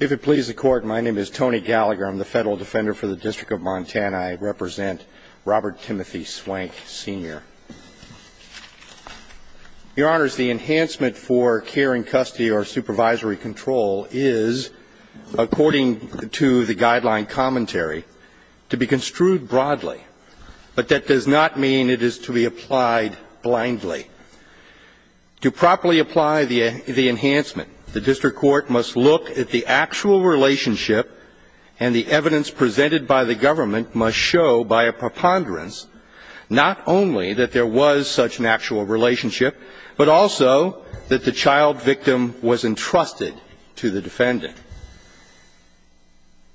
If it pleases the Court, my name is Tony Gallagher. I'm the Federal Defender for the District of Montana. I represent Robert Timothy Swank, Sr. Your Honors, the enhancement for care in custody or supervisory control is, according to the guideline commentary, to be construed broadly. But that does not mean it is to be applied blindly. To properly apply the enhancement, the district court must look at the actual relationship and the evidence presented by the government must show by a preponderance not only that there was such an actual relationship, but also that the child victim was entrusted to the defendant.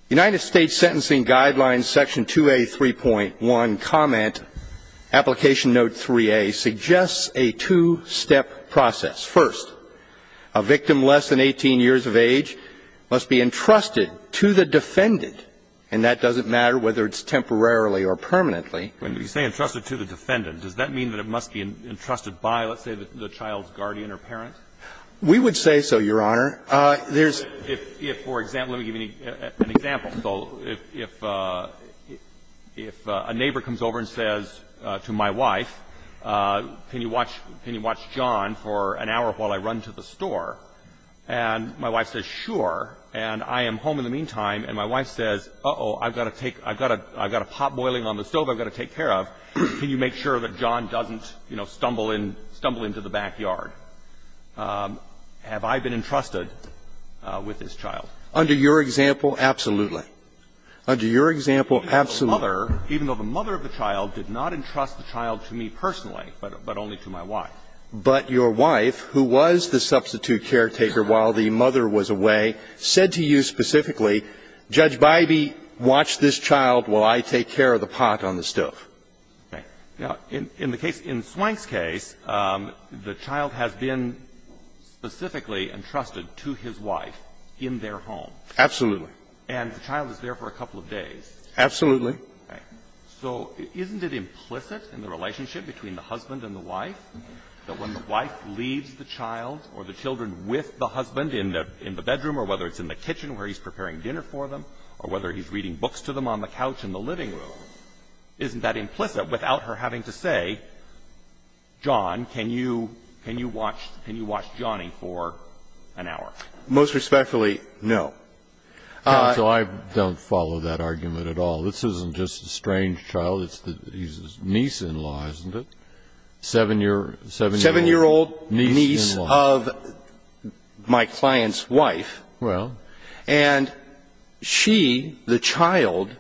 The United States Sentencing Guidelines, Section 2A, 3.1, comment, Application Note 3A, suggests a two-step process. First, a victim less than 18 years of age must be entrusted to the defendant, and that doesn't matter whether it's temporarily or permanently. When you say entrusted to the defendant, does that mean that it must be entrusted by, let's say, the child's guardian or parent? We would say so, Your Honor. There's — If, for example, let me give you an example. So if a neighbor comes over and says to my wife, can you watch John for an hour while I run to the store? And my wife says, sure, and I am home in the meantime. And my wife says, uh-oh, I've got to take — I've got a pot boiling on the stove I've got to take care of. Can you make sure that John doesn't, you know, stumble into the backyard? Have I been entrusted with this child? Under your example, absolutely. Under your example, absolutely. Even though the mother of the child did not entrust the child to me personally, but only to my wife. But your wife, who was the substitute caretaker while the mother was away, said to you specifically, Judge Bybee, watch this child while I take care of the pot on the stove. Now, in the case, in Swank's case, the child has been specifically entrusted to his wife in their home. Absolutely. And the child is there for a couple of days. Absolutely. So isn't it implicit in the relationship between the husband and the wife that when the wife leaves the child or the children with the husband in the bedroom, or whether it's in the kitchen where he's preparing dinner for them, or whether he's reading books to them on the couch in the living room, isn't that implicit without her having to say, John, can you watch Johnny for an hour? Most respectfully, no. Counsel, I don't follow that argument at all. This isn't just a strange child. It's his niece-in-law, isn't it? Seven-year-old niece of my client's wife. Well. And she, the child,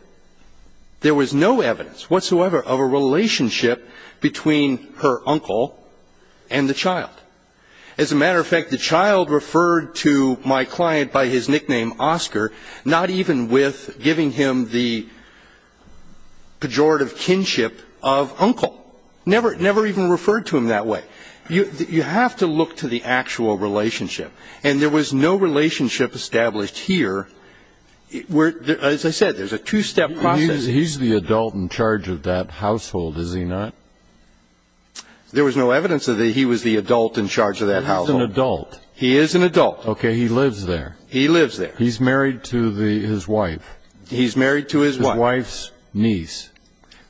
there was no evidence whatsoever of a relationship between her uncle and the child. As a matter of fact, the child referred to my client by his nickname, Oscar, not even with giving him the pejorative kinship of uncle. Never even referred to him that way. You have to look to the actual relationship. And there was no relationship established here where, as I said, there's a two-step process. He's the adult in charge of that household, is he not? There was no evidence that he was the adult in charge of that household. He is an adult. He is an adult. Okay. He lives there. He lives there. He's married to his wife. He's married to his wife's niece.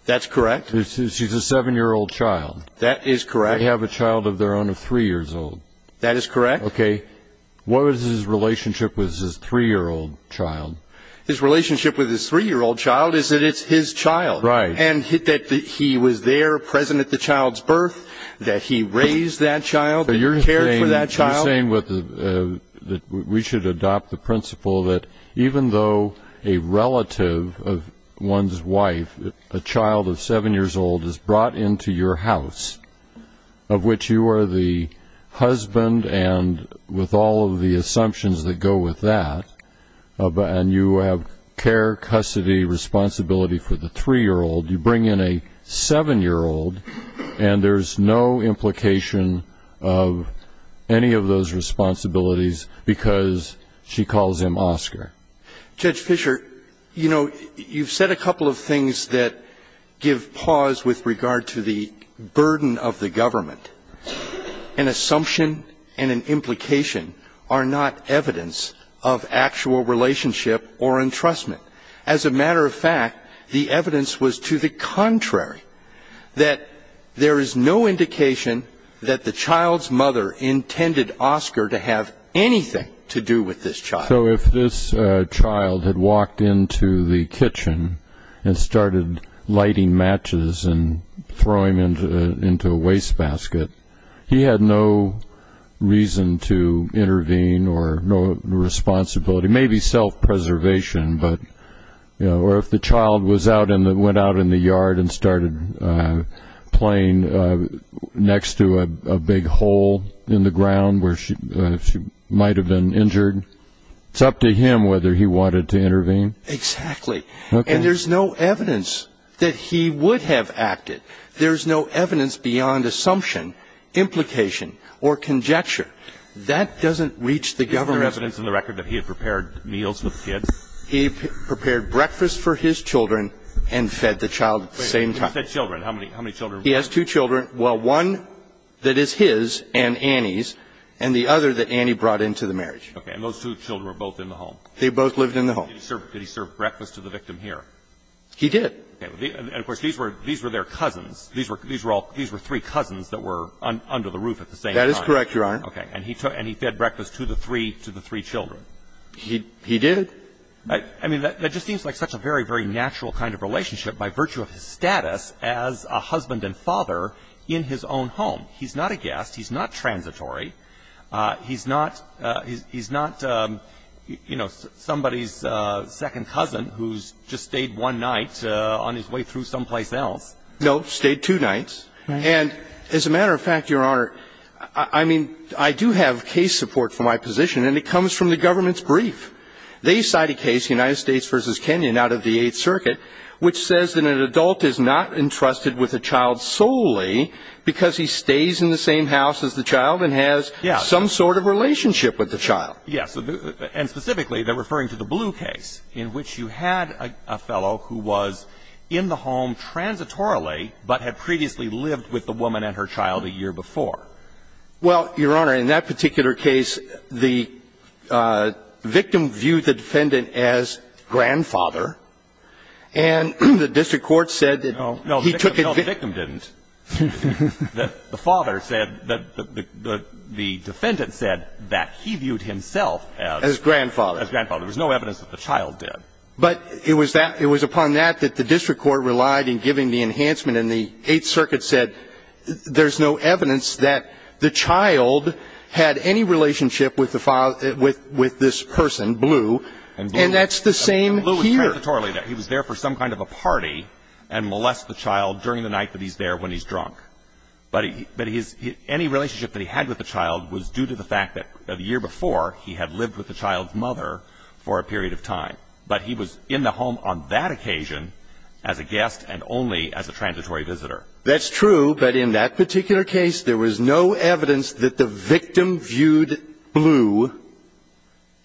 That's correct. She's a seven-year-old child. That is correct. They have a child of their own of three years old. That is correct. Okay. What was his relationship with his three-year-old child? His relationship with his three-year-old child is that it's his child. Right. And that he was there present at the child's birth, that he raised that child, that he cared for that child. You're saying that we should adopt the principle that even though a relative of one's wife, a child of seven years old, is brought into your house, of which you are the husband and with all of the assumptions that go with that, and you have care, custody, responsibility for the three-year-old, you bring in a seven-year-old and there's no implication of any of those responsibilities because she calls him Oscar. Judge Fischer, you know, you've said a couple of things that give pause with regard to the burden of the government. An assumption and an implication are not evidence of actual relationship or entrustment. As a matter of fact, the evidence was to the contrary, that there is no indication that the child's mother intended Oscar to have anything to do with this child. So if this child had walked into the kitchen and started lighting matches and throwing them into a wastebasket, he had no reason to intervene or no responsibility, maybe self-preservation, or if the child went out in the yard and started playing next to a big hole in the ground where she might have been injured, it's up to him whether he wanted to intervene. Exactly. Okay. And there's no evidence that he would have acted. There's no evidence beyond assumption, implication, or conjecture. That doesn't reach the government. Is there evidence in the record that he had prepared meals for the kids? He prepared breakfast for his children and fed the child at the same time. Wait a minute. He said children. How many children? He has two children. Well, one that is his and Annie's, and the other that Annie brought into the marriage. Okay. And those two children were both in the home? They both lived in the home. Did he serve breakfast to the victim here? He did. Okay. And, of course, these were their cousins. These were three cousins that were under the roof at the same time. That is correct, Your Honor. Okay. And he fed breakfast to the three children. He did. I mean, that just seems like such a very, very natural kind of relationship by virtue of his status as a husband and father in his own home. He's not a guest. He's not transitory. He's not somebody's second cousin who's just stayed one night on his way through someplace else. No. Stayed two nights. Right. And, as a matter of fact, Your Honor, I mean, I do have case support for my position, and it comes from the government's brief. They cite a case, United States v. Kenyon, out of the Eighth Circuit, which says that an adult is not entrusted with a child solely because he stays in the same house as the child and has some sort of relationship with the child. Yes. And specifically, they're referring to the Blue case, in which you had a fellow who was in the home transitorily, but had previously lived with the woman and her child a year before. Well, Your Honor, in that particular case, the victim viewed the defendant as grandfather. And the district court said that he took it vi- No. No, the victim didn't. The father said that the defendant said that he viewed himself as- As grandfather. As grandfather. There was no evidence that the child did. But it was upon that that the district court relied in giving the enhancement and the Eighth Circuit said there's no evidence that the child had any relationship with this person, Blue, and that's the same here. Blue was transitorily there. He was there for some kind of a party and molested the child during the night that he's there when he's drunk. But any relationship that he had with the child was due to the fact that the year But he was in the home on that occasion as a guest and only as a transitory visitor. That's true. But in that particular case, there was no evidence that the victim viewed Blue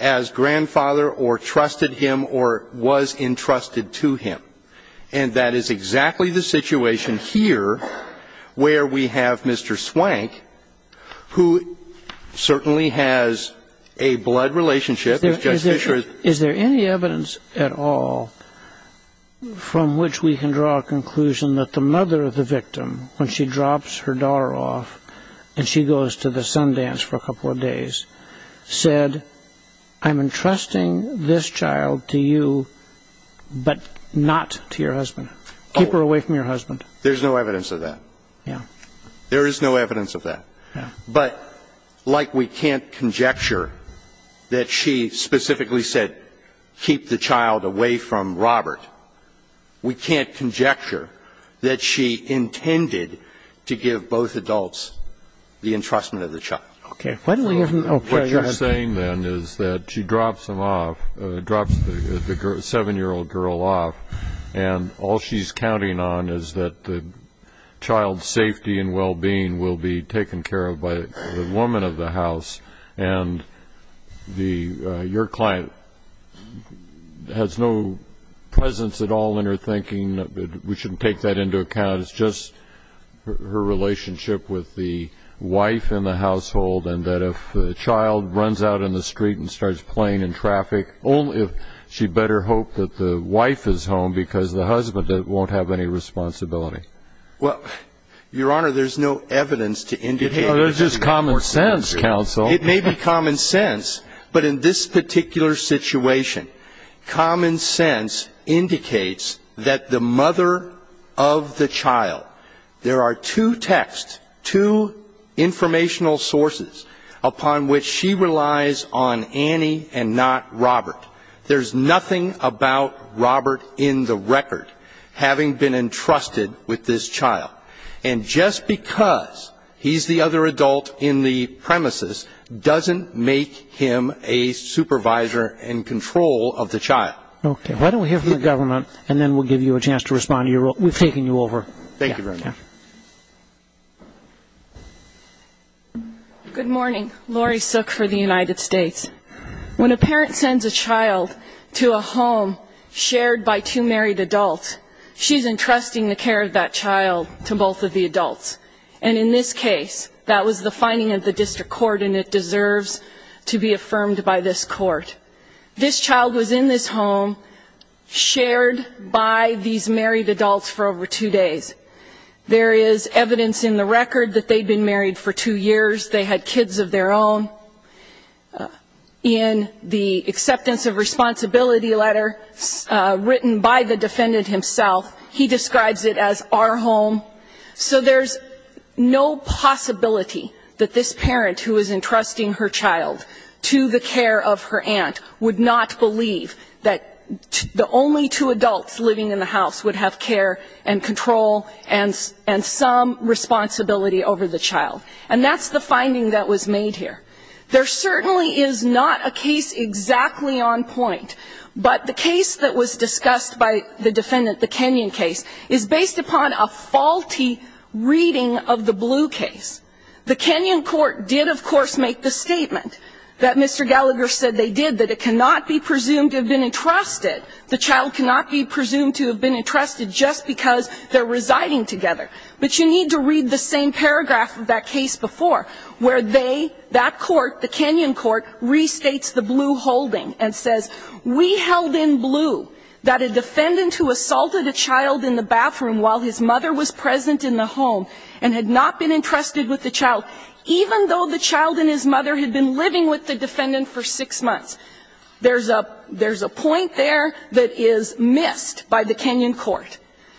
as grandfather or trusted him or was entrusted to him. And that is exactly the situation here where we have Mr. Swank, who certainly has a blood relationship. Is there any evidence at all from which we can draw a conclusion that the mother of the victim, when she drops her daughter off and she goes to the Sundance for a couple of days, said, I'm entrusting this child to you, but not to your husband. Keep her away from your husband. There's no evidence of that. Yeah. There is no evidence of that. Yeah. But like we can't conjecture that she specifically said, keep the child away from Robert. We can't conjecture that she intended to give both adults the entrustment of the child. Okay. What you're saying then is that she drops him off, drops the seven-year-old girl off, and all she's counting on is that the child's safety and well-being will be taken care of by the woman of the house. And your client has no presence at all in her thinking. We shouldn't take that into account. It's just her relationship with the wife in the household and that if the child runs out in the street and starts playing in traffic, only if she better hope that the wife is home because the husband won't have any responsibility. Well, Your Honor, there's no evidence to indicate that she's important to that issue. It's just common sense, counsel. It may be common sense, but in this particular situation, common sense indicates that the mother of the child, there are two texts, two informational sources upon which she relies on Annie and not Robert. There's nothing about Robert in the record having been entrusted with this child. And just because he's the other adult in the premises doesn't make him a supervisor and control of the child. Okay. Why don't we hear from the government and then we'll give you a chance to respond. We've taken you over. Thank you very much. Yeah. Yeah. Good morning. Lori Sook for the United States. When a parent sends a child to a home shared by two married adults, she's entrusting the care of that child to both of the adults. And in this case, that was the finding of the district court and it deserves to be affirmed by this court. This child was in this home shared by these married adults for over two days. There is evidence in the record that they'd been married for two years. They had kids of their own. In the acceptance of responsibility letter written by the defendant himself, he describes it as our home. So there's no possibility that this parent who is entrusting her child to the care of her aunt would not believe that the only two adults living in the house would have care and control and some responsibility over the child. And that's the finding that was made here. There certainly is not a case exactly on point, but the case that was discussed by the defendant, the Kenyon case, is based upon a faulty reading of the Blue case. The Kenyon court did, of course, make the statement that Mr. Gallagher said they did, that it cannot be presumed to have been entrusted. The child cannot be presumed to have been entrusted just because they're residing together. But you need to read the same paragraph of that case before, where they, that court, the Kenyon court, restates the Blue holding and says, we held in Blue that a defendant who assaulted a child in the bathroom while his mother was present in the home and had not been entrusted with the child, even though the child and his mother had been living with the defendant for six months. There's a point there that is missed by the Kenyon court.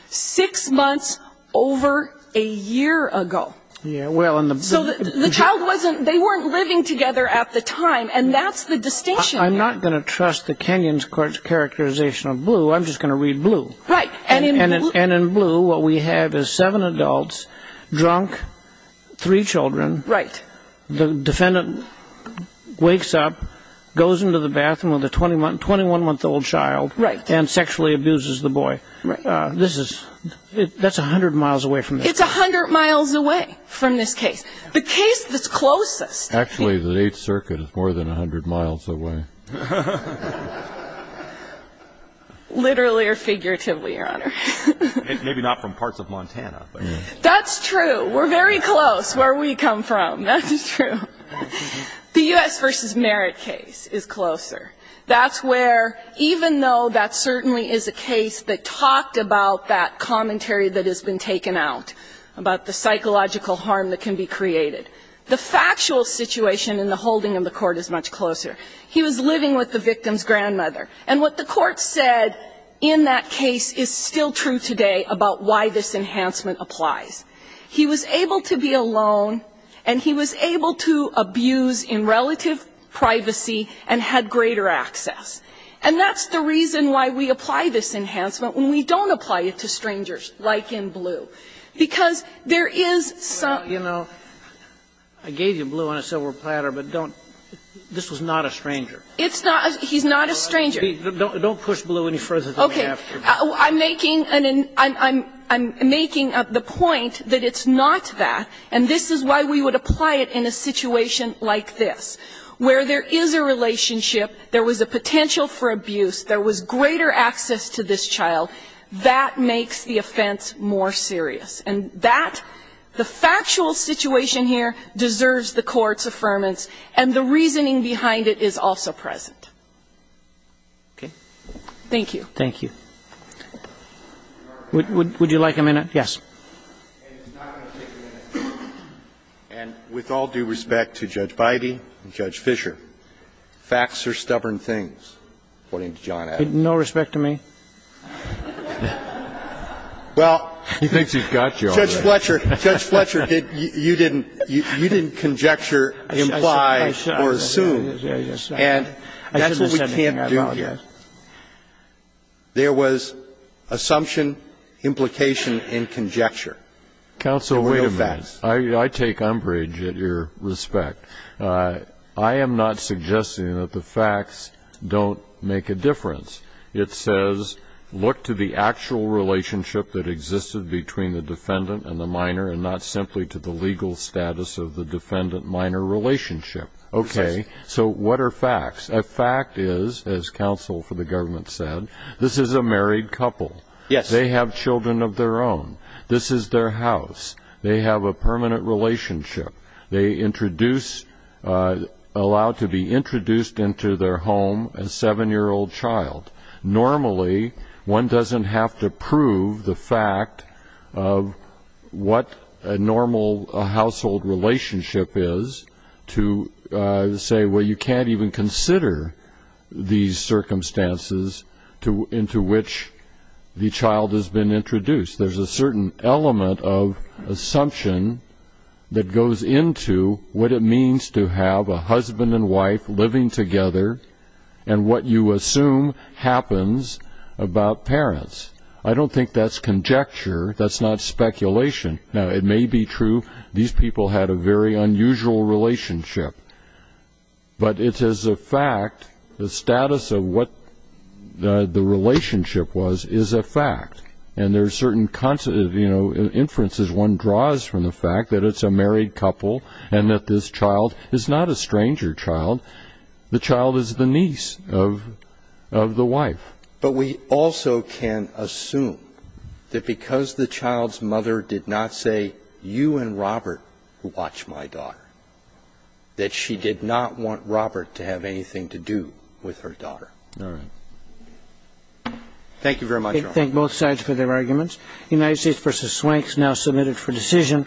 Six months over a year ago. So the child wasn't, they weren't living together at the time, and that's the distinction there. I'm not going to trust the Kenyon court's characterization of Blue. I'm just going to read Blue. Right. And in Blue what we have is seven adults, drunk, three children. Right. The defendant wakes up, goes into the bathroom with a 21-month-old child. Right. And sexually abuses the boy. Right. This is, that's 100 miles away from this. It's 100 miles away from this case. The case that's closest. Actually, the Eighth Circuit is more than 100 miles away. Literally or figuratively, Your Honor. Maybe not from parts of Montana. That's true. We're very close where we come from. That's true. The U.S. v. Merit case is closer. That's where, even though that certainly is a case that talked about that commentary that has been taken out, about the psychological harm that can be created, the factual situation in the holding of the court is much closer. He was living with the victim's grandmother. And what the court said in that case is still true today about why this enhancement applies. He was able to be alone, and he was able to abuse in relative privacy and had greater access. And that's the reason why we apply this enhancement when we don't apply it to strangers, like in Blue. Because there is some. You know, I gave you Blue on a silver platter, but don't, this was not a stranger. It's not, he's not a stranger. Don't push Blue any further than we have to. Okay. I'm making the point that it's not that, and this is why we would apply it in a relationship. There was a potential for abuse. There was greater access to this child. That makes the offense more serious. And that, the factual situation here deserves the court's affirmance, and the reasoning behind it is also present. Okay. Thank you. Thank you. Would you like a minute? Yes. And with all due respect to Judge Beide and Judge Fischer, facts are stubborn things, according to John Adams. No respect to me. Well, Judge Fletcher, Judge Fletcher, you didn't, you didn't conjecture, imply, or assume. And that's what we can't do here. There was assumption, implication, and conjecture. Counsel, wait a minute. I take umbrage at your respect. I am not suggesting that the facts don't make a difference. It says, look to the actual relationship that existed between the defendant and the minor, and not simply to the legal status of the defendant-minor relationship. Okay. So what are facts? A fact is, as counsel for the government said, this is a married couple. Yes. They have children of their own. This is their house. They have a permanent relationship. They introduce, allow to be introduced into their home a seven-year-old child. Normally, one doesn't have to prove the fact of what a normal household relationship is to say, well, you can't even consider these circumstances into which the child has been introduced. There's a certain element of assumption that goes into what it means to have a husband and wife living together, and what you assume happens about parents. I don't think that's conjecture. That's not speculation. Now, it may be true these people had a very unusual relationship. But it is a fact, the status of what the relationship was is a fact. And there's certain, you know, inferences one draws from the fact that it's a married couple and that this child is not a stranger child. The child is the niece of the wife. But we also can assume that because the child's mother did not say, you and Robert watch my daughter, that she did not want Robert to have anything to do with her daughter. All right. Thank you very much. Thank both sides for their arguments. United States v. Swank is now submitted for decision.